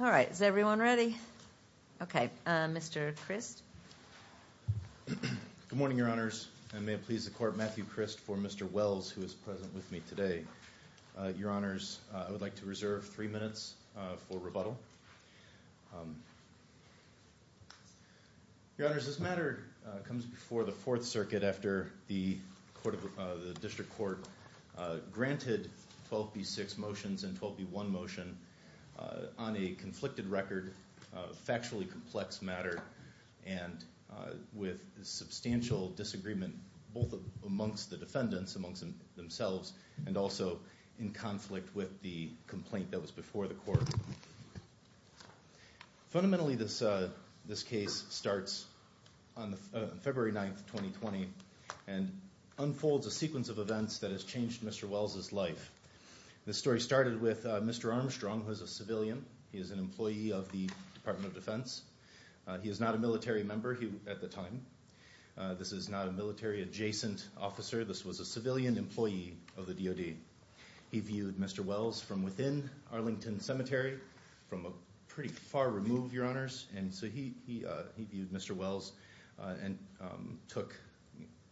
All right, is everyone ready? Okay, Mr. Christ. Good morning, Your Honors. I may please the Court, Matthew Christ for Mr. Wells, who is present with me today. Your Honors, I would like to reserve three minutes for rebuttal. Your Honors, this matter comes before the Fourth Circuit after the District Court granted 12b-6 motions and 12b-1 motion on a conflicted record, factually complex matter, and with substantial disagreement both amongst the defendants, amongst themselves, and also in conflict with the complaint that was before the Court. Fundamentally, this case starts on February 9th, 2020, and unfolds a case that has changed Mr. Wells' life. This story started with Mr. Armstrong, who is a civilian. He is an employee of the Department of Defense. He is not a military member at the time. This is not a military adjacent officer. This was a civilian employee of the DoD. He viewed Mr. Wells from within Arlington Cemetery, from a pretty far remove, Your Honors, and so he viewed Mr. Wells and took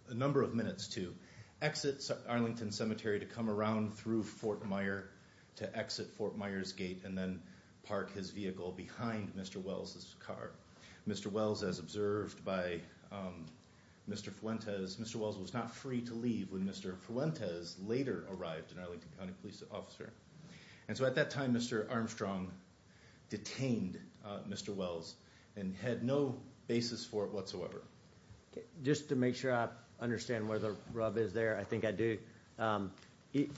a number of minutes to exit Arlington Cemetery, to come around through Fort Meyer, to exit Fort Meyers Gate, and then park his vehicle behind Mr. Wells' car. Mr. Wells, as observed by Mr. Fuentes, Mr. Wells was not free to leave when Mr. Fuentes later arrived, an Arlington County police officer, and so at that time Mr. Armstrong detained Mr. Wells and had no basis for it whatsoever. Just to make sure I understand where the rub is there, I think I do.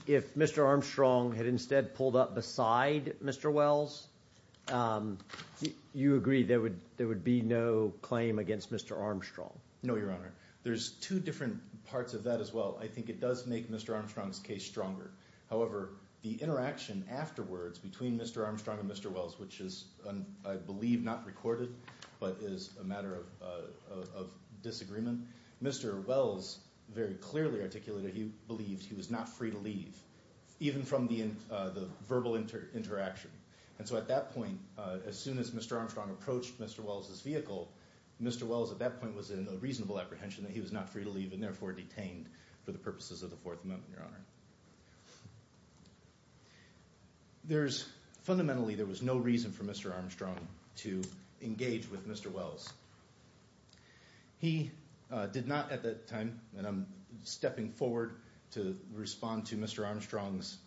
If Mr. Armstrong had instead pulled up beside Mr. Wells, you agree there would be no claim against Mr. Armstrong? No, Your Honor. There's two different parts of that as well. I think it does make Mr. Armstrong's case stronger. However, the interaction afterwards between Mr. Armstrong and Mr. Wells, which is, I think, a case of disagreement, Mr. Wells very clearly articulated he believed he was not free to leave, even from the verbal interaction, and so at that point, as soon as Mr. Armstrong approached Mr. Wells' vehicle, Mr. Wells at that point was in a reasonable apprehension that he was not free to leave and therefore detained for the purposes of the Fourth Amendment, Your Honor. Fundamentally, there was no reason for Mr. Armstrong to engage with Mr. Wells. He did not, at that time, and I'm stepping forward to respond to Mr. Armstrong's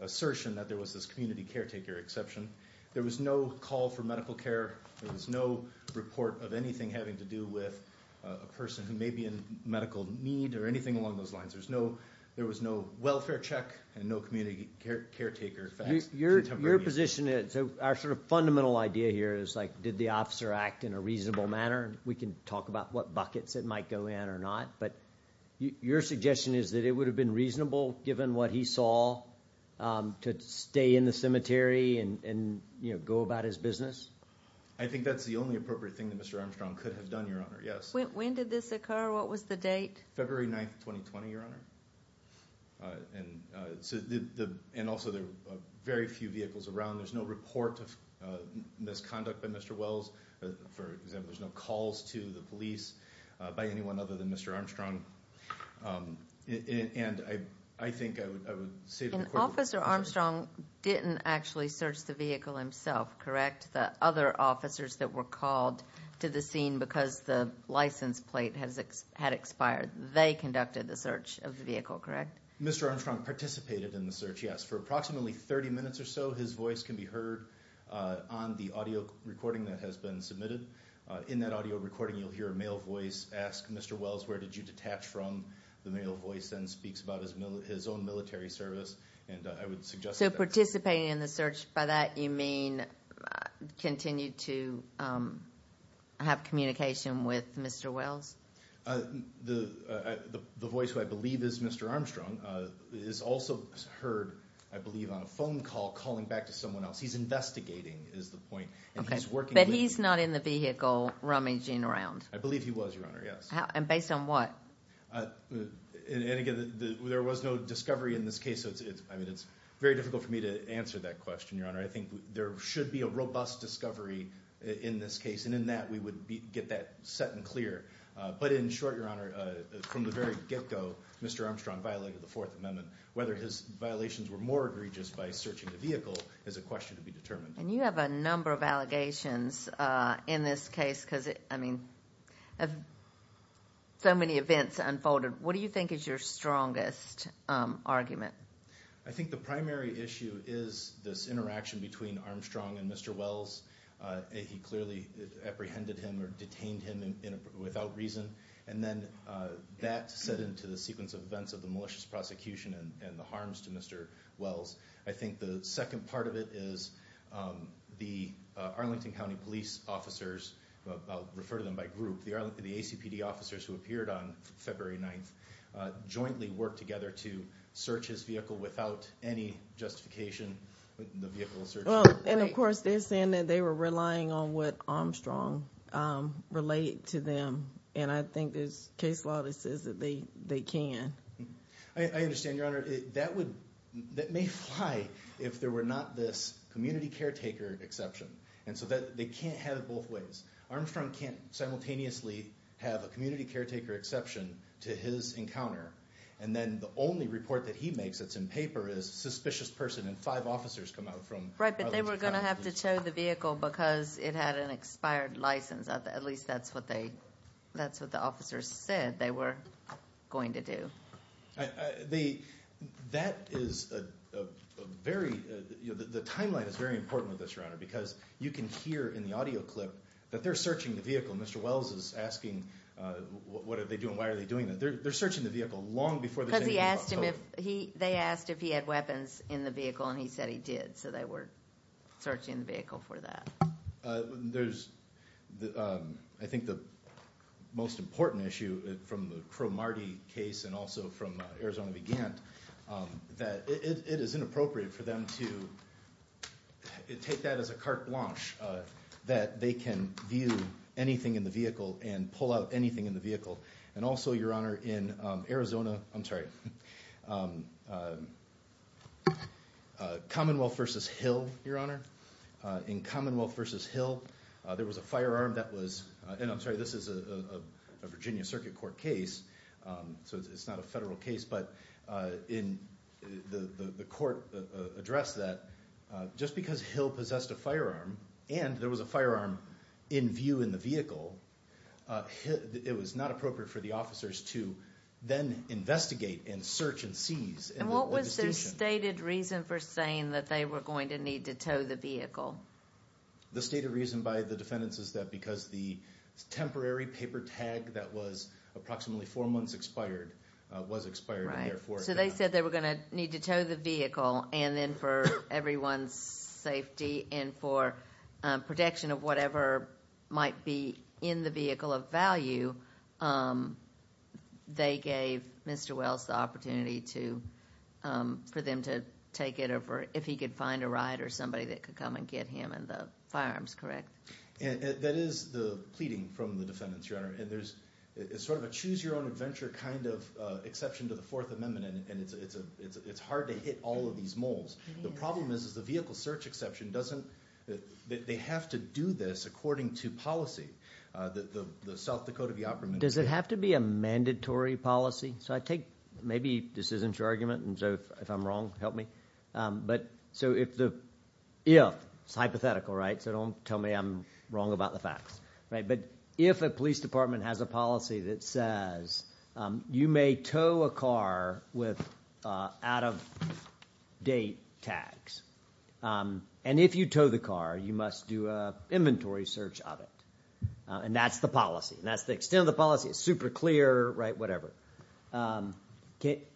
assertion that there was this community caretaker exception, there was no call for medical care, there was no report of anything having to do with a person who may be in medical need or anything along those lines. There's no, there was no welfare check and no community caretaker. Your position is, our sort of fundamental idea here is, like, did the officer act in a reasonable manner? We can talk about what buckets it might go in or not, but your suggestion is that it would have been reasonable, given what he saw, to stay in the cemetery and, you know, go about his business? I think that's the only appropriate thing that Mr. Armstrong could have done, Your Honor, yes. When did this occur? What was the date? February 9th, 2020, Your Honor, and also there were very few vehicles around. There's no report of misconduct by Mr. Wells. For example, there's no calls to the police by anyone other than Mr. Armstrong, and I think I would say... And Officer Armstrong didn't actually search the vehicle himself, correct? The other officers that were called to the scene because the license plate had expired, they conducted the search of the vehicle, correct? Mr. Armstrong participated in the search, yes, for approximately 30 minutes or so. His voice can be heard on the audio recording that has been submitted. In that audio recording, you'll hear a male voice ask, Mr. Wells, where did you detach from? The male voice then speaks about his own military service, and I would suggest... So participating in the search, by that you mean continued to have communication with Mr. Wells? The voice, who I believe is Mr. Armstrong, is also heard, I believe, on a phone call calling back to someone else. He's investigating, is the point. Okay, but he's not in the vehicle rummaging around? I believe he was, Your Honor, yes. And based on what? And again, there was no discovery in this case, so it's, I mean, it's very difficult for me to answer that question, Your Honor. I think there should be a robust discovery in this case, and in that we would get that set and clear. But in short, Your Honor, Mr. Armstrong violated the Fourth Amendment. Whether his violations were more egregious by searching the vehicle is a question to be determined. And you have a number of allegations in this case, because, I mean, so many events unfolded. What do you think is your strongest argument? I think the primary issue is this interaction between Armstrong and Mr. Wells. He clearly apprehended him or detained him without reason, and then that set into the sequence of events of the malicious prosecution and the harms to Mr. Wells. I think the second part of it is the Arlington County Police officers, I'll refer to them by group, the ACPD officers who appeared on February 9th, jointly worked together to search his vehicle without any justification. And of course, they're saying that they were relying on what relate to them, and I think there's case law that says that they can. I understand, Your Honor, that may fly if there were not this community caretaker exception, and so they can't have it both ways. Armstrong can't simultaneously have a community caretaker exception to his encounter, and then the only report that he makes that's in paper is a suspicious person and five officers come out from Arlington County Police Department. Right, but they were going to have to show the vehicle because it had an expired license. At least that's what they, that's what the officers said they were going to do. The, that is a very, you know, the timeline is very important with this, Your Honor, because you can hear in the audio clip that they're searching the vehicle. Mr. Wells is asking what are they doing, why are they doing that? They're searching the vehicle long before... Because he asked him if he, they asked if he had weapons in the vehicle, and he said he did, so they were searching the vehicle for that. There's the, I think the most important issue from the Crow-Marty case and also from Arizona began, that it is inappropriate for them to take that as a carte blanche, that they can view anything in the vehicle and pull out anything in the vehicle. And also, Your Honor, in Commonwealth versus Hill, there was a firearm that was, and I'm sorry, this is a Virginia Circuit Court case, so it's not a federal case, but in the court addressed that just because Hill possessed a firearm and there was a firearm in view in the vehicle, it was not appropriate for the officers to then investigate and search and seize. And what was their stated reason for saying that they were going to need to tow the vehicle? The stated reason by the defendants is that because the temporary paper tag that was approximately four months expired was expired. Right, so they said they were gonna need to tow the vehicle and then for everyone's safety and for protection of whatever might be in the vehicle of value, they gave Mr. Wells the opportunity to, for them to take it over, if he could find a ride or somebody that could come and get him and the firearms, correct? That is the pleading from the defendants, Your Honor, and there's sort of a choose-your-own-adventure kind of exception to the Fourth Amendment and it's hard to hit all of these moles. The problem is, is the vehicle search exception doesn't, they have to do this according to policy. The South Dakota Vioperman... Does it have to be a mandatory policy? So I take, maybe this isn't your argument, and so if I'm wrong, help me, but so if the, if, it's hypothetical, right? So don't tell me I'm wrong about the facts, right? But if a police department has a policy that says you may tow a car with out-of-date tags and if you tow the car you must do a inventory search of it and that's the policy and that's the extent of the policy. It's super clear, right? Whatever. Can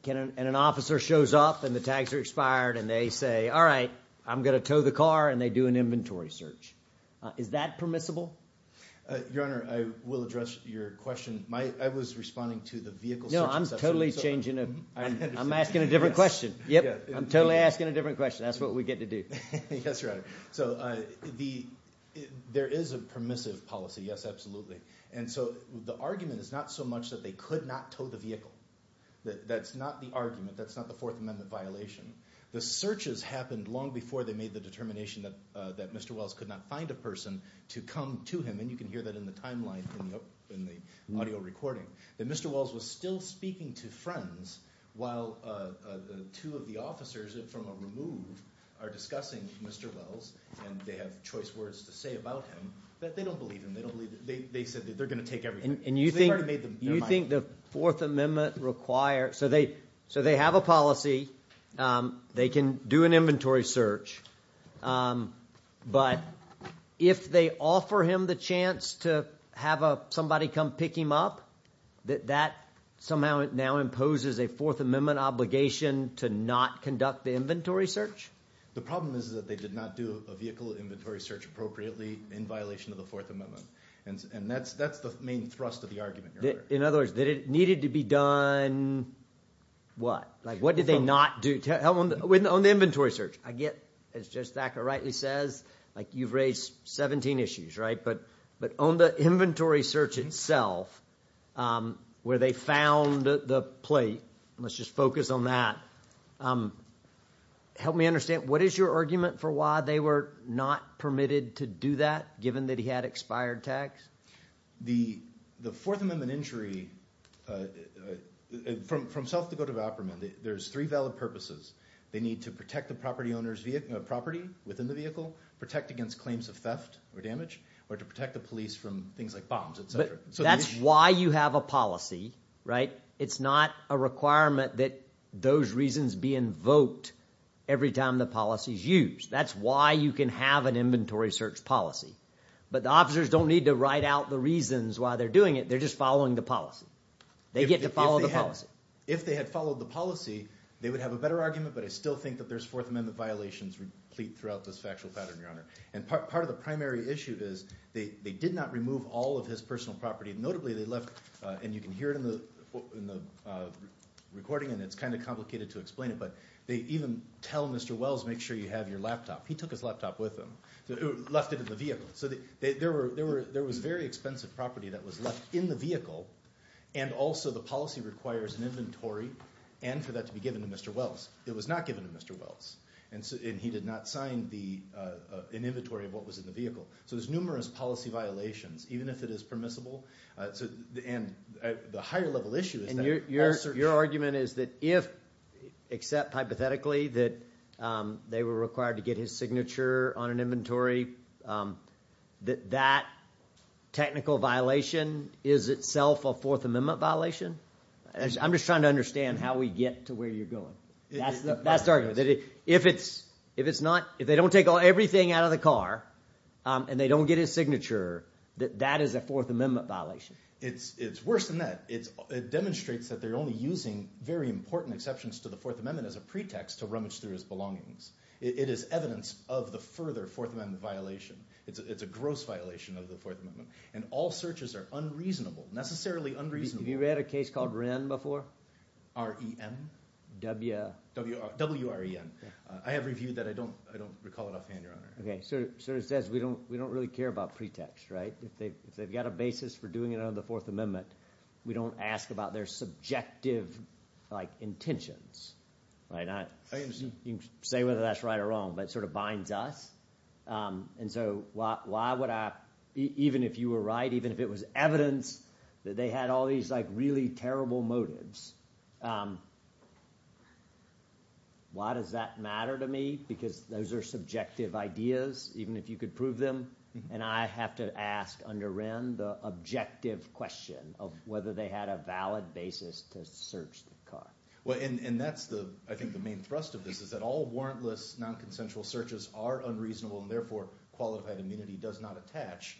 an officer shows up and the officer expired and they say, all right, I'm gonna tow the car and they do an inventory search. Is that permissible? Your Honor, I will address your question. I was responding to the vehicle... No, I'm totally changing it. I'm asking a different question. Yep, I'm totally asking a different question. That's what we get to do. Yes, Your Honor. So the, there is a permissive policy, yes, absolutely, and so the argument is not so much that they could not tow the vehicle. That's not the argument. That's not the Fourth Amendment violation. The searches happened long before they made the determination that that Mr. Wells could not find a person to come to him, and you can hear that in the timeline in the audio recording, that Mr. Wells was still speaking to friends while two of the officers from a remove are discussing Mr. Wells and they have choice words to say about him that they don't believe him. They don't believe, they said that they're gonna take everything. And you think the Fourth Amendment requires, so they, so they have a policy, they can do an inventory search, but if they offer him the chance to have a somebody come pick him up, that somehow now imposes a Fourth Amendment obligation to not conduct the inventory search? The problem is that they did not do a vehicle inventory search appropriately in violation of the Fourth Amendment, and that's, that's the main thrust of the argument. In other words, that it needed to be done, what? Like what did they not do? On the inventory search, I get, as Judge Thacker rightly says, like you've raised 17 issues, right? But, but on the inventory search itself, where they found the plate, let's just focus on that, help me understand, what is your argument for why they were not permitted to do that, given that he had expired tax? The, the Fourth Amendment injury, from, from South Dakota to Vopermann, there's three valid purposes. They need to protect the property owner's vehicle, property within the vehicle, protect against claims of theft or damage, or to protect the police from things like bombs, etc. So that's why you have a policy, right? It's not a requirement that those reasons be invoked every time the policy is used. That's why you can have an inventory search policy. But the officers don't need to write out the reasons why they're doing it, they're just following the policy. They get to follow the policy. If they had followed the policy, they would have a better argument, but I still think that there's Fourth Amendment violations replete throughout this factual pattern, Your Honor. And part of the primary issue is, they did not remove all of his personal property. Notably, they left, and you can hear it in the recording, and it's kind of complicated to explain it, but they even tell Mr. Wells, make sure you have your laptop. He took his laptop with him, left it in the vehicle. So there was very expensive property that was left in the vehicle, and also the policy requires an inventory, and for that to be given to Mr. Wells. It was not given to Mr. Wells, and he did not sign an inventory of what was in the vehicle. So there's numerous policy violations, even if it is permissible, and the higher-level issue is that... Your argument is that if, except hypothetically, that they were required to get his signature on an inventory, that that technical violation is itself a Fourth Amendment violation? I'm just trying to understand how we get to where you're going. That's the best argument. If it's not, if they don't take everything out of the car, and they don't get his signature, that that is a Fourth Amendment violation. It's worse than that. It demonstrates that they're only using very important exceptions to the Fourth Amendment as a pretext to rummage through his belongings. It is evidence of the further Fourth Amendment violation. It's a gross violation of the Fourth Amendment, and all searches are unreasonable, necessarily unreasonable. Have you read a case called Wren before? W-R-E-N. W-R-E-N. I have reviewed that. I don't recall it offhand, your Honor. Okay, so it says we don't really care about pretext, right? If they've got a basis for doing it under the Fourth Amendment, we don't ask about their subjective intentions. You can say whether that's right or wrong, but it sort of binds us. So why would I, even if you were right, even if it was evidence that they had all these really terrible motives, why does that matter to me? Because those are subjective ideas, even if you could prove them, and I have to ask under Wren the objective question of whether they had a valid basis to search the car. Well, and that's the, I think, the main thrust of this, is that all warrantless non-consensual searches are unreasonable, and therefore qualified immunity does not attach,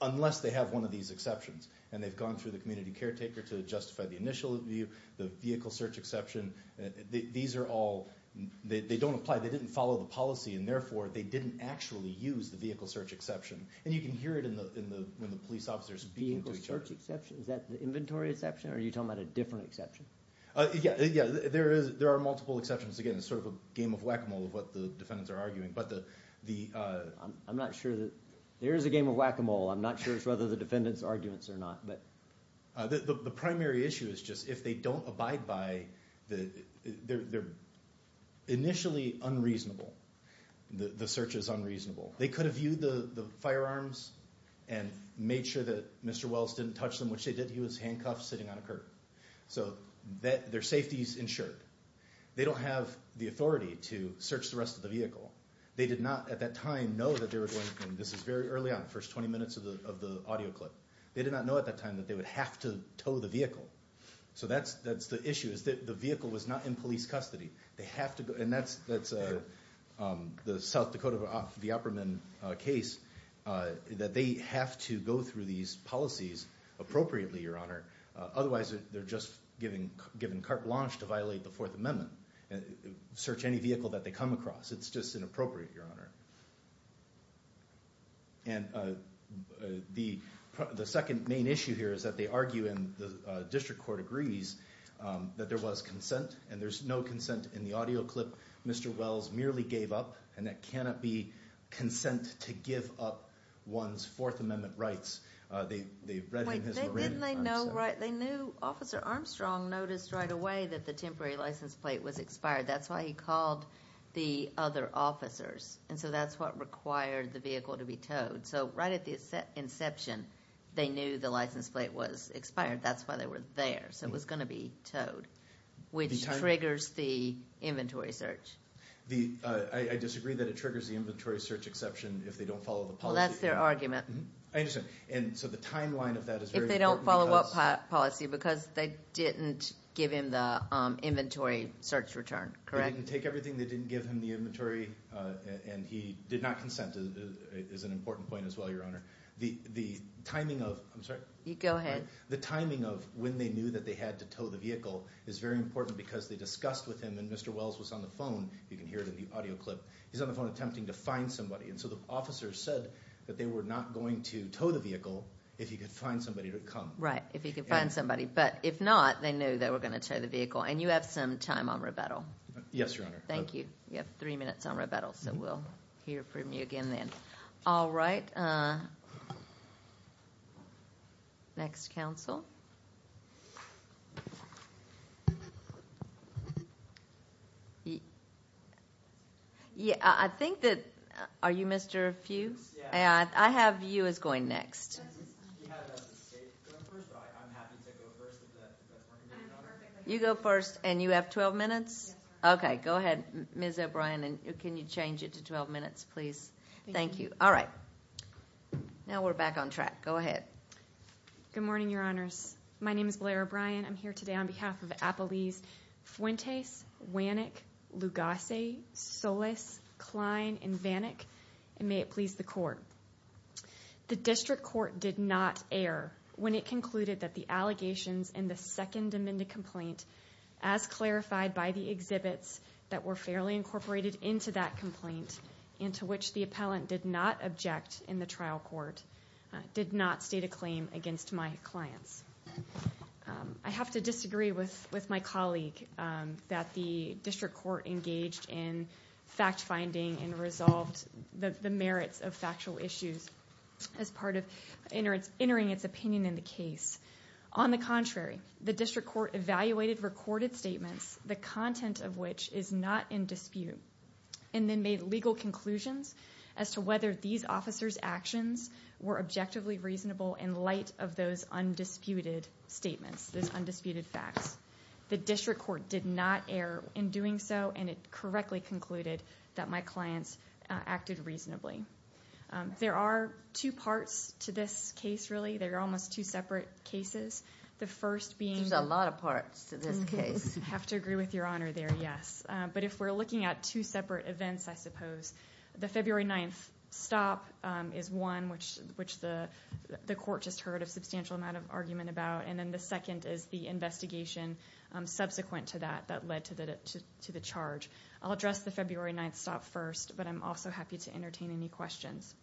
unless they have one of these exceptions, and they've gone through the community caretaker to justify the initial view, the vehicle search exception, these are all, they don't apply, they didn't follow the policy, and therefore they didn't actually use the vehicle search exception, and you can hear it in the, when the police officers speak to each other. Is that the inventory exception or are you talking about a different exception? Yeah, yeah, there is, there are multiple exceptions, again, it's sort of a game of whack-a-mole of what the defendants are arguing, but the... I'm not sure that, there is a game of whack-a-mole, I'm not sure it's whether the defendants arguments or not, but... The primary issue is just, if they don't abide by the, they're initially unreasonable, the search is unreasonable, they could have viewed the firearms and made sure that Mr. Wells didn't touch them, which they did, he was handcuffed sitting on a curb, so that their safety is ensured, they don't have the authority to search the rest of the vehicle, they did not at that time know that they were going, this is very early on, first 20 minutes of the audio clip, they did not know at that time that they would have to tow the vehicle, so that's, that's the issue, is that the vehicle was not in police custody, they have to go, and that's, that's the South Dakota Viaperman case, that they have to go through these policies appropriately, your honor, otherwise they're just given carte blanche to violate the Fourth Amendment, search any vehicle that they come across, it's just inappropriate, your honor. And the second main issue here is that they argue, and the district court agrees, that there was consent, and there's no consent in the audio clip, Mr. Wells merely gave up, and that cannot be consent to give up one's Fourth Amendment rights, they read in his memorandum. Wait, didn't they know, right, they knew Officer Armstrong noticed right away that the temporary license plate was expired, that's why he called the other officers, and so that's what required the vehicle to be towed, so right at the inception, they knew the license plate was expired, that's why they were there, so it was going to be towed, which triggers the inventory search. I disagree that it triggers the inventory search exception if they don't follow the policy. Well that's their argument. I understand, and so the timeline of that is very important. If they don't follow what policy, because they didn't give him the inventory search return, correct? They didn't take everything, they didn't give him the inventory, and he did not consent, is an important point as well, your honor. The the timing of, I'm sorry, you go ahead, the timing of when they knew that they had to tow the vehicle is very important because they discussed with him, and Mr. Wells was on the phone, you can hear it in the audio clip, he's on the phone attempting to find somebody, and so the officers said that they were not going to tow the vehicle if he could find somebody to come. Right, if he could find somebody, but if not, they knew they were going to tow the vehicle, and you have some time on rebuttal. Yes, your honor. Thank you. You have three minutes on rebuttal, so we'll hear from you again then. All right, next counsel. Yeah, I think that, are you Mr. Fuchs? Yeah. I have you as going next. You go first, and you have 12 minutes? Okay, go ahead, Ms. O'Brien, and can you change it to 12 minutes, please? Thank you. All right, now we're back on track. Go ahead. Good morning, your honors. My name is Blair O'Brien. I'm here today on behalf of Appalese Fuentes, Wannick, Lugasse, Solis, Klein, and Vannick, and may it please the court. The district court did not err when it concluded that the allegations in the second amendment complaint, as clarified by the exhibits that were fairly incorporated into that complaint, into which the appellant did not object in the trial court, did not state a claim against my clients. I have to disagree with with my colleague that the district court engaged in fact-finding and resolved the merits of factual issues as part of entering its opinion in the case. On the contrary, the district court evaluated recorded statements, the content of which is not in dispute, and then made legal conclusions as to whether these officers' actions were objectively reasonable in light of those undisputed statements, those undisputed facts. The district court did not err in doing so, and it correctly concluded that my clients acted reasonably. There are two parts to this case, really. They're almost two separate cases. The first being... There's a lot of parts to this case. I have to agree with Your Honor there, yes. But if we're looking at two separate events, I suppose, the February 9th stop is one which the court just heard a substantial amount of argument about, and then the second is the investigation subsequent to that that led to the charge. I'll address the February 9th stop first, but I'm also happy to entertain any questions.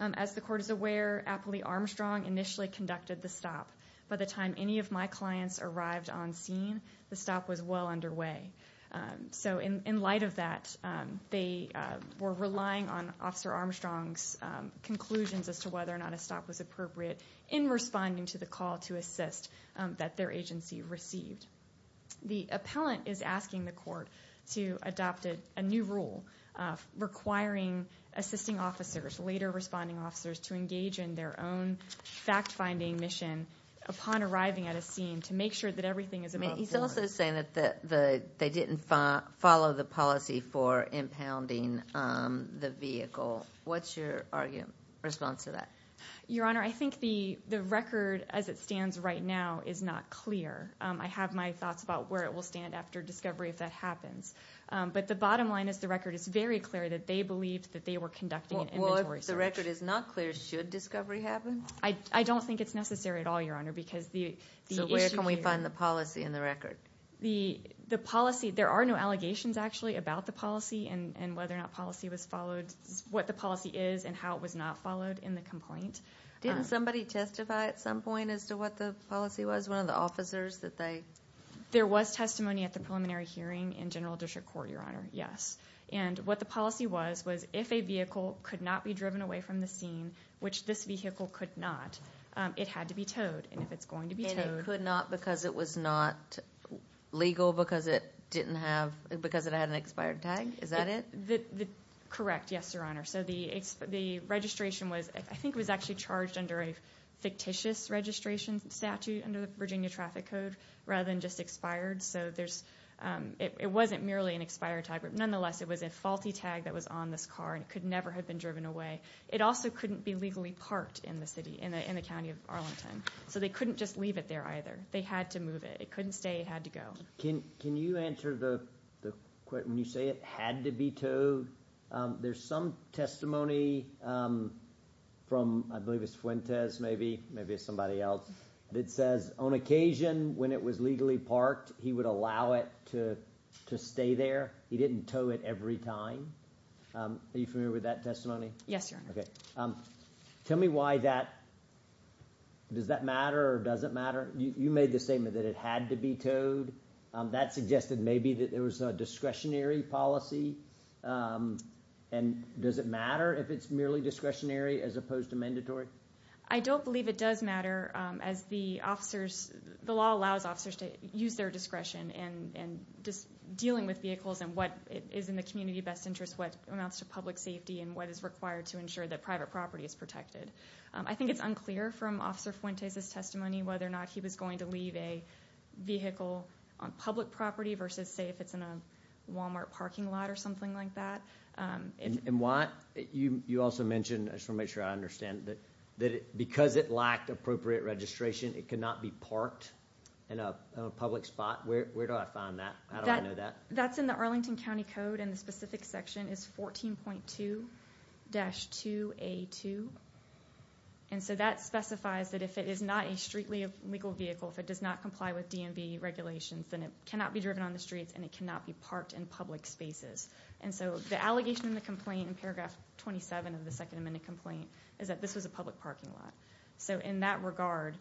As the court is aware, Appley Armstrong initially conducted the stop. By the time any of my clients arrived on scene, the stop was well underway. So in light of that, they were relying on Officer Armstrong's conclusions as to whether or not a stop was appropriate in responding to the call to assist that their agency received. The appellant is asking the court to adopt a new rule requiring assisting officers, later responding officers, to engage in their own fact-finding mission upon arriving at a scene to make sure that everything is above board. He's also saying that they didn't follow the policy for impounding the vehicle. What's your response to that? Your Honor, I think the record as it stands right now is not clear. I have my thoughts about where it will stand after discovery if that happens. But the bottom line is the record is very clear that they believed that they were conducting an inventory search. Well, if the record is not clear, should discovery happen? I don't think it's necessary at all, Your Honor, because the issue here... So where can we find the policy in the record? The policy, there are no allegations actually about the policy and whether or not policy was followed, what the policy is and how it was not followed in the complaint. Didn't somebody testify at some point as to what the policy was? One of the officers that they... There was testimony at the preliminary hearing in General District Court, Your Honor, yes. And what the policy was, was if a vehicle could not be driven away from the scene, which this vehicle could not, it had to be towed. And if it's going to be towed... And it could not because it was not legal, because it didn't have, because it had an expired tag, is that it? Correct, yes, Your Honor. So the registration was, I think it was actually charged under a fictitious registration statute under the Virginia Traffic Code, rather than just expired. So there's, it wasn't merely an expired tag, but nonetheless it was a faulty tag that was on this car and it could never have been driven away. It also couldn't be legally parked in the city, in the county of Arlington. So they couldn't just leave it there either. They had to move it. It couldn't stay, it had to go. Can you answer the question, you say it had to be towed. There's some testimony from, I believe it's from Jim Quintez, maybe, maybe it's somebody else. It says on occasion when it was legally parked, he would allow it to stay there. He didn't tow it every time. Are you familiar with that testimony? Yes, Your Honor. Okay. Tell me why that, does that matter or doesn't matter? You made the statement that it had to be towed. That suggested maybe that there was a discretionary policy. And does it matter if it's merely discretionary as opposed to mandatory? I don't believe it does matter as the officers, the law allows officers to use their discretion and just dealing with vehicles and what is in the community best interest, what amounts to public safety and what is required to ensure that private property is protected. I think it's unclear from Officer Fuentes' testimony whether or not he was going to leave a vehicle on public property versus say if it's in a Walmart parking lot or something like that. And why, you also mentioned, I just want to make sure I understand, that because it lacked appropriate registration it could not be parked in a public spot? Where do I find that? How do I know that? That's in the Arlington County Code and the specific section is 14.2-2A2. And so that specifies that if it is not a street legal vehicle, if it does not comply with DMV regulations, then it cannot be driven on the streets and it cannot be parked in public spaces. And so the allegation in the complaint in paragraph 27 of the Second Amendment complaint is that this was a public parking lot. So in that regard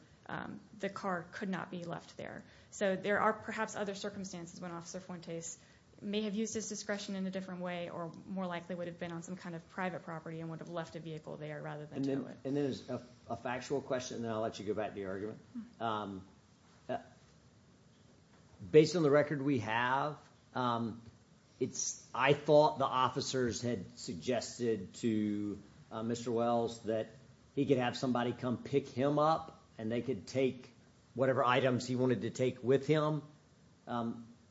the car could not be left there. So there are perhaps other circumstances when Officer Fuentes may have used his discretion in a different way or more likely would have been on some kind of private property and would have left a vehicle there rather than do it. And then as a factual question, then I'll let you go back to the argument. Based on the record we have, I thought the officers had suggested to Mr. Wells that he could have somebody come pick him up and they could take whatever items he wanted to take with him.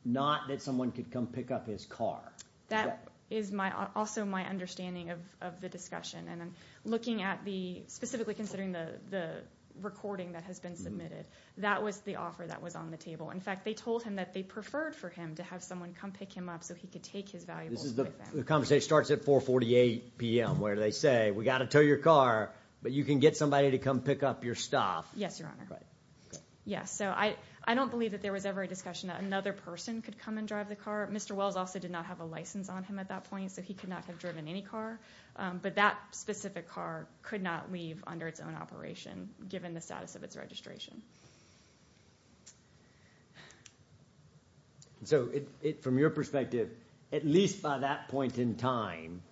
Not that someone could come pick up his car. That is also my understanding of the discussion and then looking at the, specifically considering the recording that has been submitted, that was the offer that was on the table. In fact they told him that they preferred for him to have someone come pick him up so he could take his valuables with him. The conversation starts at 448 p.m. where they say we got to tow your car but you can get somebody to come pick up your stuff. Yes, Your Honor. Yes, so I don't believe that there was ever a discussion that another person could come and drive the car. Mr. Wells also did not have a license on him at that point so he could not have driven any car. But that specific car could not leave under its own operation given the status of its registration. So from your perspective, at least by that point in time,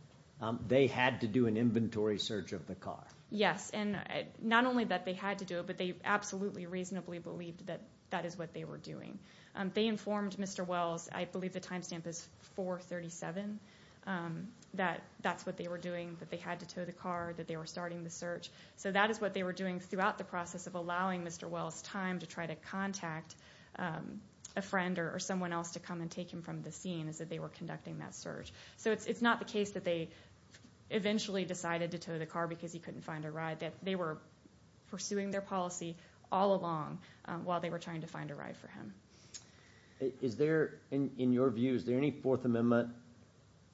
they had to do an inventory search of the car. Yes, and not only that they had to do it but they absolutely reasonably believed that that is what they were doing. They informed Mr. Wells, I believe the time stamp is 437, that that's what they were doing, that they had to tow the car, that they were starting the search. So that is what they were doing throughout the process of allowing Mr. Wells time to try to contact a friend or someone else to come and take him from the scene, is that they were conducting that search. So it's not the case that they eventually decided to tow the car because he couldn't find a ride, that they were pursuing their policy all along while they were trying to find a ride for him. Is there, in your view, is there any Fourth Amendment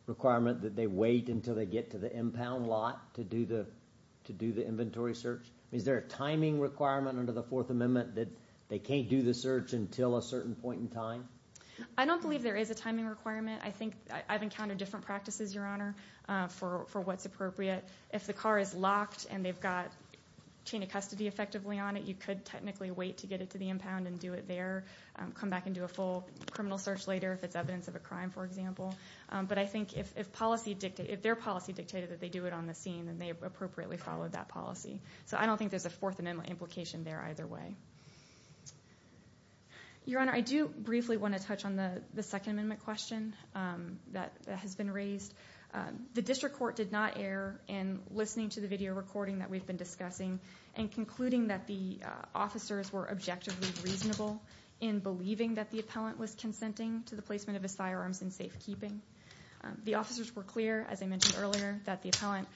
requirement that they wait until they get to the impound lot to do the to do the inventory search? Is there a timing requirement under the Fourth Amendment that they can't do the search until a certain point in time? I don't believe there is a timing requirement. I think I've encountered different practices, Your Honor, for what's appropriate. If the car is locked and they've got chain of custody effectively on it, you could technically wait to get it to the impound and do it there, come back and do a full criminal search later if it's evidence of a crime, for example. But I think if policy dictated, if their policy dictated that they do it on the scene, then they appropriately followed that policy. So I don't think there's a Fourth Amendment implication there either way. Your Honor, I do briefly want to touch on the the Second Amendment question that has been raised. The district court did not err in listening to the video recording that we've been discussing and concluding that the officers were objectively reasonable in believing that the appellant was consenting to the placement of his firearms in safekeeping. The officers were clear, as I mentioned earlier, that the appellant,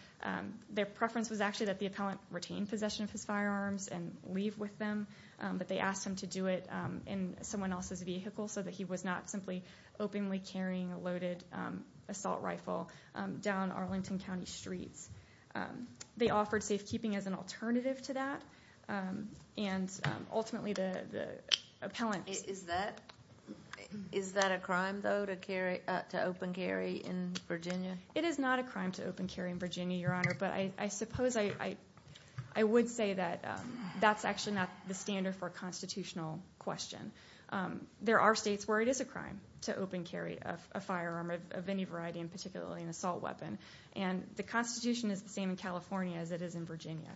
their preference was actually that the appellant retain possession of his firearms and leave with them, but they asked him to do it in someone else's vehicle so that he was not simply openly carrying a loaded assault rifle down Arlington County streets. They offered safekeeping as an alternative to that, and ultimately the appellant. Is that a crime to open carry in Virginia? It is not a crime to open carry in Virginia, Your Honor, but I suppose I would say that that's actually not the standard for a constitutional question. There are states where it is a crime to open carry a firearm of any variety, and particularly an assault weapon, and the Constitution is the same in California as it is in Virginia.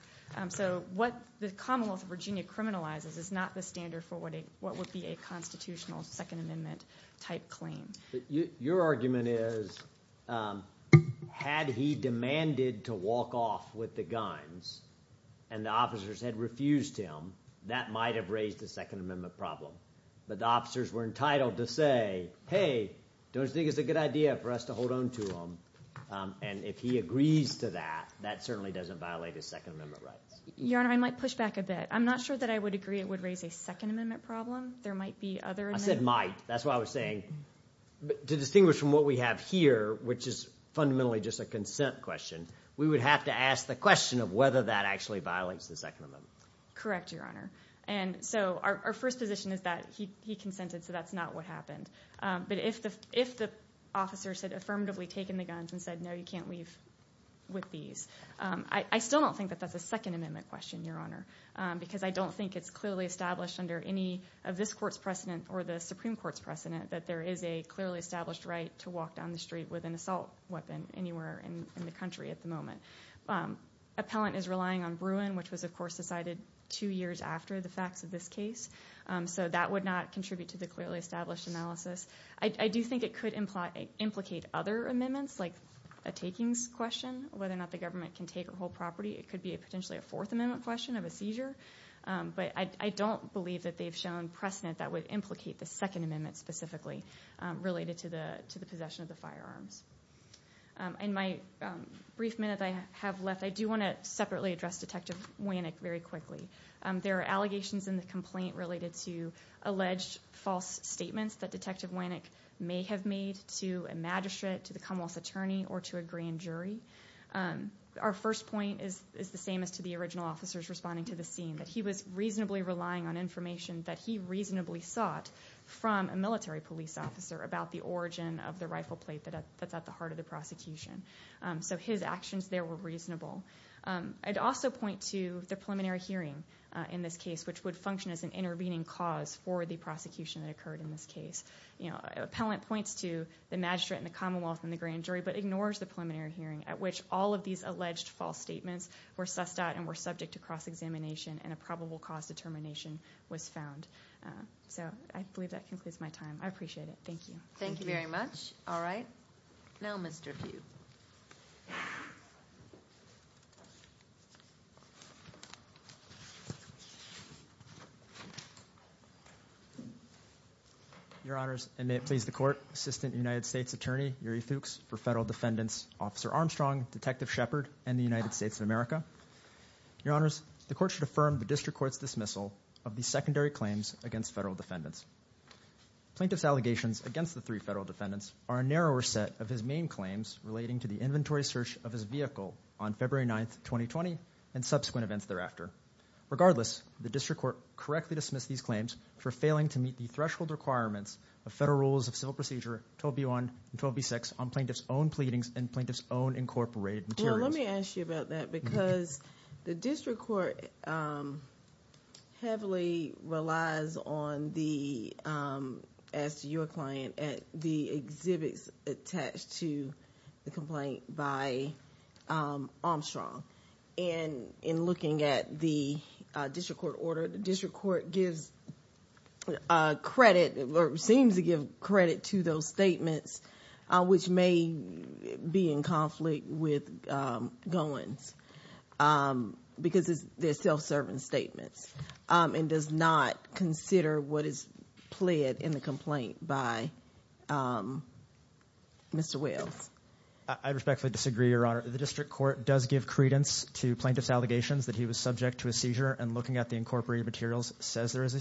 So what the Commonwealth of Virginia criminalizes is not the standard for what would be a Your argument is, had he demanded to walk off with the guns and the officers had refused him, that might have raised a Second Amendment problem, but the officers were entitled to say, hey, don't you think it's a good idea for us to hold on to them, and if he agrees to that, that certainly doesn't violate his Second Amendment rights. Your Honor, I might push back a bit. I'm not sure that I would agree it would raise a Second Amendment problem. There might be other I said might, that's why I was saying, to distinguish from what we have here, which is fundamentally just a consent question, we would have to ask the question of whether that actually violates the Second Amendment. Correct, Your Honor, and so our first position is that he consented, so that's not what happened, but if the officers had affirmatively taken the guns and said, no, you can't leave with these, I still don't think that that's a Second Amendment question, Your Honor, because I don't think it's clearly established under any of this Court's precedent or the Supreme Court's precedent that there is a clearly established right to walk down the street with an assault weapon anywhere in the country at the moment. Appellant is relying on Bruin, which was of course decided two years after the facts of this case, so that would not contribute to the clearly established analysis. I do think it could implicate other amendments, like a takings question, whether or not the government can take or hold property. It could be a potentially a Fourth Amendment question of a seizure, but I don't believe that they've shown precedent that would implicate the Second Amendment specifically related to the possession of the firearms. In my brief minute I have left, I do want to separately address Detective Wannick very quickly. There are allegations in the complaint related to alleged false statements that Detective Wannick may have made to a magistrate, to the Commonwealth's attorney, or to a grand jury. Our first point is the same as to the original officers responding to the scene, that he was reasonably relying on information that he reasonably sought from a military police officer about the origin of the rifle plate that's at the heart of the prosecution. So his actions there were reasonable. I'd also point to the preliminary hearing in this case, which would function as an intervening cause for the prosecution that occurred in this case. Appellant points to the magistrate and the Commonwealth and the grand jury, but ignores the preliminary hearing at which all of these alleged false statements were sussed out and were subject to cross-examination and a probable cause determination was found. So I believe that concludes my time. I appreciate it. Thank you. Thank you very much. All right, now Mr. Pugh. Your Honors, and may it please the Court, Assistant United States Attorney Yuri Fuchs for Federal Defendants Officer Armstrong, Detective Shepard, and the United States of America. Your Honors, the Court should affirm the District Court's dismissal of the secondary claims against Federal Defendants. Plaintiff's allegations against the three Federal Defendants are a narrower set of his main claims relating to the inventory search of his vehicle on February 9th, 2020, and subsequent events thereafter. Regardless, the District Court correctly dismissed these claims for failing to meet the threshold requirements of Federal Rules of Civil Procedure 12B1 and 12B6 on plaintiff's own pleadings and plaintiff's own incorporated materials. Well, let me ask you about that because the District Court heavily relies on the, as to your client, at the exhibits attached to the complaint by Armstrong. And in looking at the District Court order, the District Court does give credit to those statements which may be in conflict with Gowans because they're self-serving statements and does not consider what is pled in the complaint by Mr. Wells. I respectfully disagree, Your Honor. The District Court does give credence to plaintiff's allegations that he was subject to a seizure and looking at the incorporated materials says there is a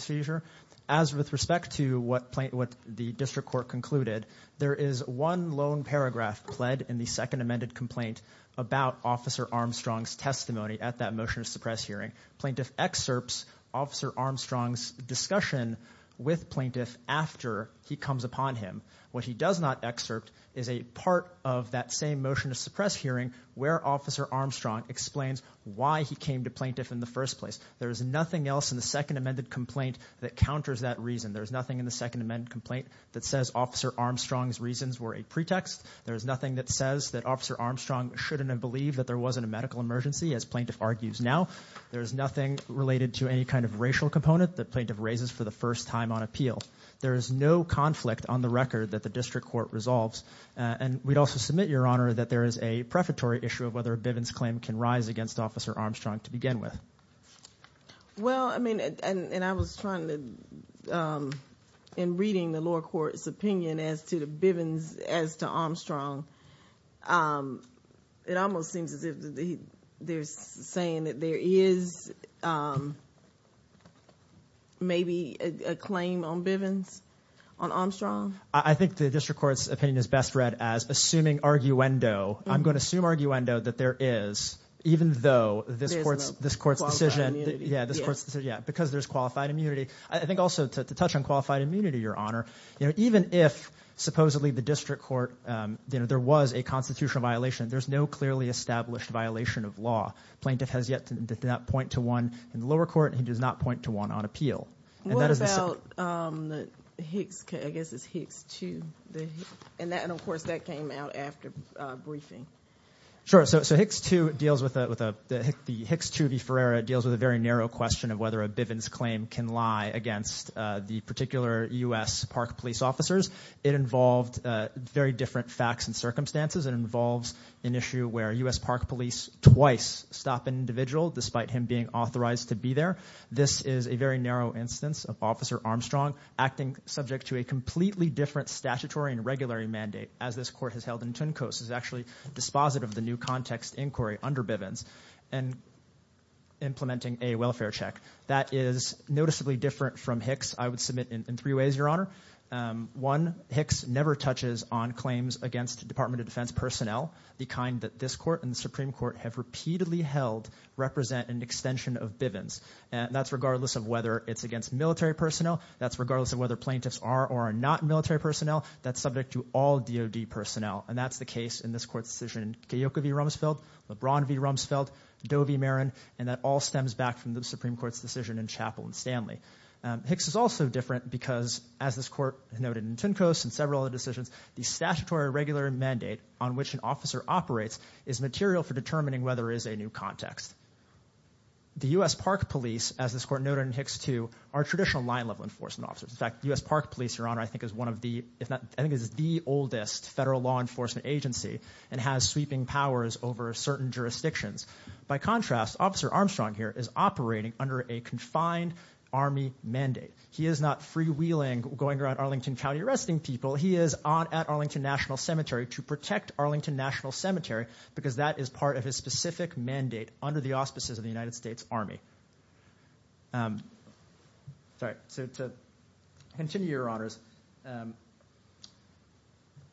the District Court concluded there is one lone paragraph pled in the Second Amended complaint about Officer Armstrong's testimony at that motion to suppress hearing. Plaintiff excerpts Officer Armstrong's discussion with plaintiff after he comes upon him. What he does not excerpt is a part of that same motion to suppress hearing where Officer Armstrong explains why he came to plaintiff in the first place. There is nothing else in the Second Amended complaint that counters that reason. There's nothing in the Second Amended complaint that says Officer Armstrong's reasons were a pretext. There is nothing that says that Officer Armstrong shouldn't have believed that there wasn't a medical emergency as plaintiff argues now. There is nothing related to any kind of racial component that plaintiff raises for the first time on appeal. There is no conflict on the record that the District Court resolves and we'd also submit, Your Honor, that there is a prefatory issue of whether a Bivens claim can rise against Officer Armstrong to begin with. Well, I mean, and I was trying to, in reading the lower court's opinion as to the Bivens as to Armstrong, it almost seems as if they're saying that there is maybe a claim on Bivens on Armstrong? I think the District Court's opinion is best read as assuming arguendo. I'm going to assume arguendo that there is even though this court's decision, yeah, because there's qualified immunity. I think also to touch on qualified immunity, Your Honor, you know, even if supposedly the District Court, you know, there was a constitutional violation, there's no clearly established violation of law. Plaintiff has yet to point to one in the lower court. He does not point to one on appeal. What about the Hicks, I guess it's Hicks 2? And that, of course, that came out after briefing. Sure, so Hicks 2 deals with the Hicks 2 v. Ferreira deals with a very narrow question of whether a Bivens claim can lie against the particular U.S. Park Police officers. It involved very different facts and circumstances. It involves an issue where U.S. Park Police twice stop an individual despite him being authorized to be there. This is a very narrow instance of Officer Armstrong acting subject to a completely different statutory and regularly mandate as this court has held in Tuncoats, is actually dispositive of the new context inquiry under Bivens and implementing a welfare check. That is noticeably different from Hicks, I would submit, in three ways, Your Honor. One, Hicks never touches on claims against Department of Defense personnel, the kind that this court and the Supreme Court have repeatedly held represent an extension of Bivens. And that's regardless of whether it's against military personnel, that's regardless of whether plaintiffs are or are not military personnel, that's subject to all DOD personnel. And that's the case in this court's decision in Keokuk v. Rumsfeld, LeBron v. Rumsfeld, Doe v. Marin, and that all stems back from the Supreme Court's decision in Chappell v. Stanley. Hicks is also different because, as this court noted in Tuncoats and several other decisions, the statutory regular mandate on which an officer operates is material for determining whether it is a new context. The U.S. Park Police, as this court noted in Hicks too, are traditional line-level enforcement officers. In fact, U.S. Park Police, Your Honor, I think is one of the, if not, I think is the oldest federal law enforcement agency and has sweeping powers over certain jurisdictions. By contrast, Officer Armstrong here is operating under a confined Army mandate. He is not freewheeling going around Arlington County arresting people. He is on at Arlington National Cemetery to protect Arlington National Cemetery because that is part of his specific mandate under the auspices of the United States Army. Sorry, so to continue, Your Honors,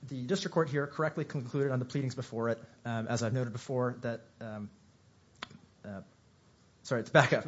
the district court here correctly concluded on the pleadings before it, as I've noted before, that, sorry to back up,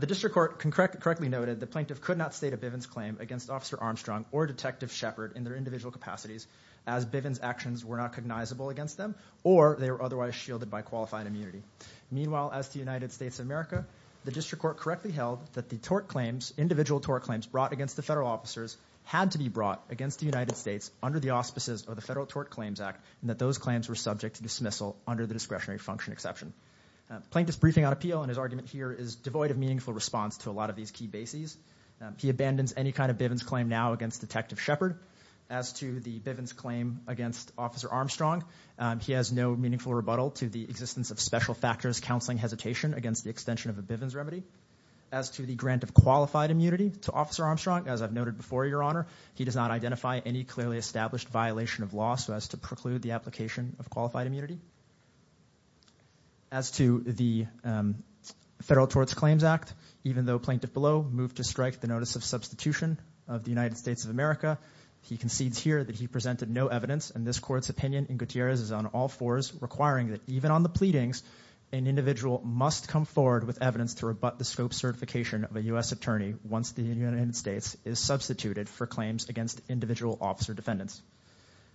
the district court correctly noted the plaintiff could not state a Bivens claim against Officer Armstrong or Detective Shepard in their individual capacities as Bivens actions were not cognizable against them or they were otherwise shielded by qualified immunity. Meanwhile, as the United States of America, the district court correctly held that the tort claims, individual tort claims brought against the federal officers had to be brought against the United States under the auspices of the Federal Tort Claims Act and that those claims were subject to dismissal under the discretionary function exception. Plaintiff's briefing on appeal and his argument here is devoid of meaningful response to a lot of these key bases. He abandons any kind of Bivens claim now against Detective Shepard. As to the Bivens claim against Officer Armstrong, he has no meaningful rebuttal to the existence of special factors counseling hesitation against the extension of a Bivens remedy. As to the grant of qualified immunity to Officer Armstrong, as I've noted before, Your Honor, he does not identify any clearly established violation of law so as to preclude the application of qualified immunity. As to the Federal Tort Claims Act, even though plaintiff below moved to strike the notice of substitution of the United States of America, he concedes here that he presented no evidence and this court's opinion in Gutierrez is on all fours requiring that even on the pleadings an individual must come forward with evidence to rebut the scope certification of a U.S. attorney once the United States is substituted for claims against individual officer defendants.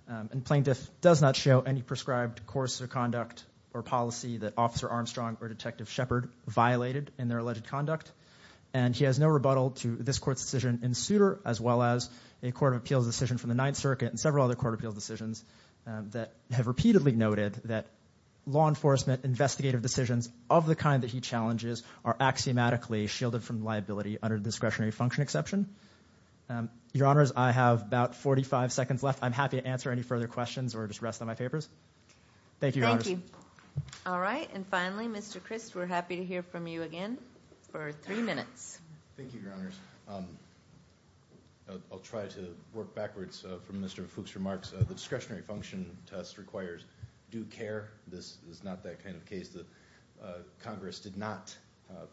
And plaintiff does not show any prescribed course of conduct or policy that Officer Armstrong or Detective Shepard violated in their alleged conduct and he has no rebuttal to this court's decision in Souter as well as a Court of Appeals decision from the Ninth Circuit and several other Court of Appeals decisions that have repeatedly noted that law enforcement investigative decisions of the kind that he challenges are axiomatically shielded from liability under discretionary function exception. Your Honors, I have about 45 seconds left. I'm happy to answer any further questions or just rest on my papers. Thank you. Thank you. All right and finally Mr. Christ we're happy to hear from you again for three minutes. Thank you, Your Honors. I'll try to work backwards from Mr. Fuchs' remarks. The discretionary function test requires due care. This is not that kind of case. Congress did not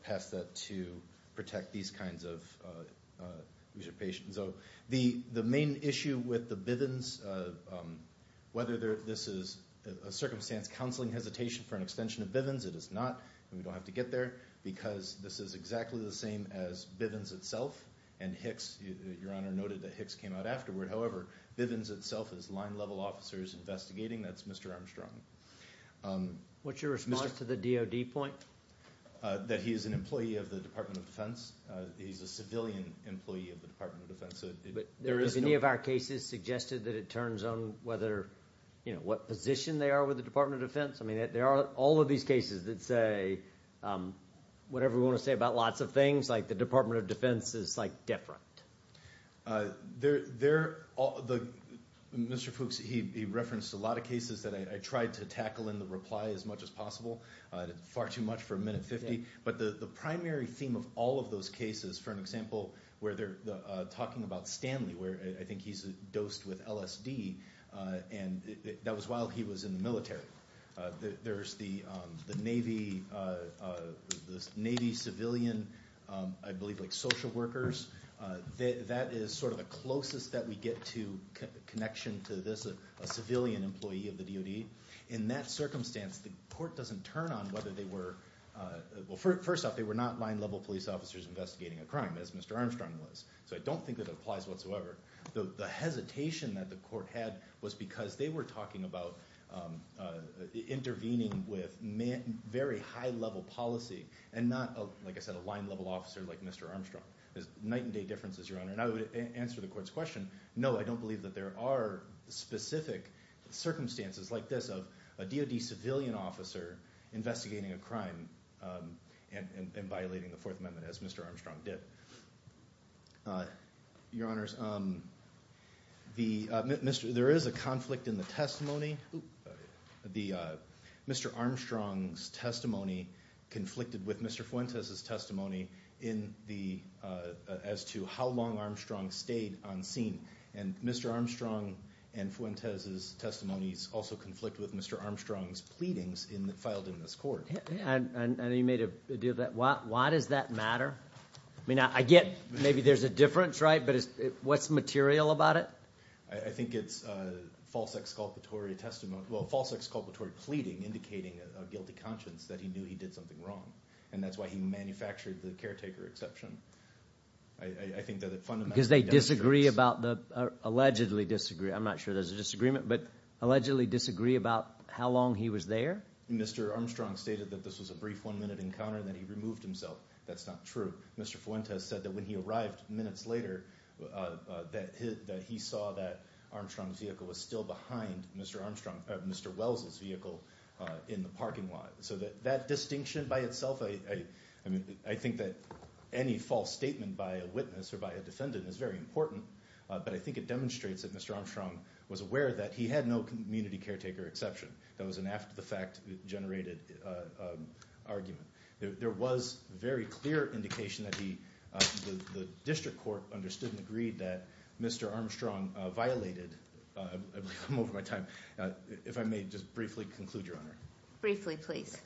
pass that to protect these kinds of patients. So the the main issue with the Bivens, whether this is a circumstance counseling hesitation for an extension of Bivens, it is not. We don't have to get there because this is exactly the same as Bivens itself and Hicks. Your Honor noted that Hicks came out afterward. However, Bivens itself is line level officers investigating. That's your response to the DOD point? That he is an employee of the Department of Defense. He's a civilian employee of the Department of Defense. But there is any of our cases suggested that it turns on whether you know what position they are with the Department of Defense? I mean there are all of these cases that say whatever we want to say about lots of things like the Department of Defense is like different. There there all the Mr. Fuchs he referenced a lot of cases that I tried to tackle in the reply as much as possible. Far too much for a minute fifty. But the the primary theme of all of those cases for an example where they're talking about Stanley where I think he's a dosed with LSD and that was while he was in the military. There's the the Navy the Navy civilian I believe like social workers. That is sort of the closest that we get to connection to this a civilian employee of the DOD. In that circumstance the court doesn't turn on whether they were well first off they were not line level police officers investigating a crime as Mr. Armstrong was. So I don't think that it applies whatsoever. Though the hesitation that the court had was because they were talking about intervening with man very high level policy and not like I said a line level officer like Mr. Armstrong. There's night and day differences your honor. And I would answer the courts question no I don't believe that there are specific circumstances like this of a DOD civilian officer investigating a crime and violating the Fourth Amendment as Mr. Armstrong did. Your honors the Mr. there is a conflict in the testimony the Mr. Armstrong's testimony conflicted with Mr. Fuentes testimony in the as to how long Armstrong stayed on and Mr. Armstrong and Fuentes's testimonies also conflict with Mr. Armstrong's pleadings in the filed in this court. And he made a deal that why why does that matter? I mean I get maybe there's a difference right but it's what's material about it? I think it's a false exculpatory testimony well false exculpatory pleading indicating a guilty conscience that he knew he did something wrong and that's why he manufactured the caretaker exception. I think that it disagree about the allegedly disagree I'm not sure there's a disagreement but allegedly disagree about how long he was there? Mr. Armstrong stated that this was a brief one-minute encounter that he removed himself that's not true. Mr. Fuentes said that when he arrived minutes later that he saw that Armstrong's vehicle was still behind Mr. Armstrong Mr. Wells's vehicle in the parking lot. So that that distinction by itself I I mean I think that any false statement by a witness or by a defendant is very important but I think it demonstrates that Mr. Armstrong was aware that he had no community caretaker exception that was an after-the-fact generated argument. There was very clear indication that he the district court understood and agreed that Mr. Armstrong violated I'm over my time if I may just briefly conclude your honor. Briefly please.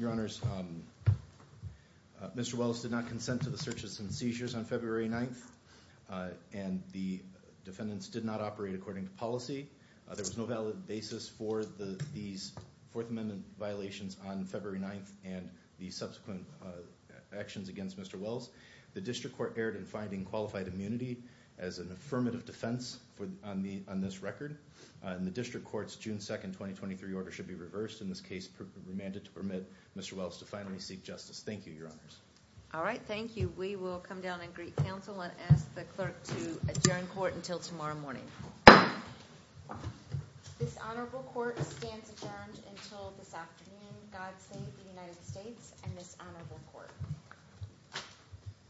Your honors, Mr. Wells did not consent to the searches and seizures on February 9th and the defendants did not operate according to policy. There was no valid basis for the these Fourth Amendment violations on February 9th and the subsequent actions against Mr. Wells. The district court erred in finding qualified immunity as an affirmative defense for on the on this record and the district courts June 2nd 2023 order should be reversed in this case remanded to permit Mr. Wells to finally seek justice. Thank you your honors. All right thank you we will come down and greet counsel and ask the clerk to adjourn court until tomorrow morning.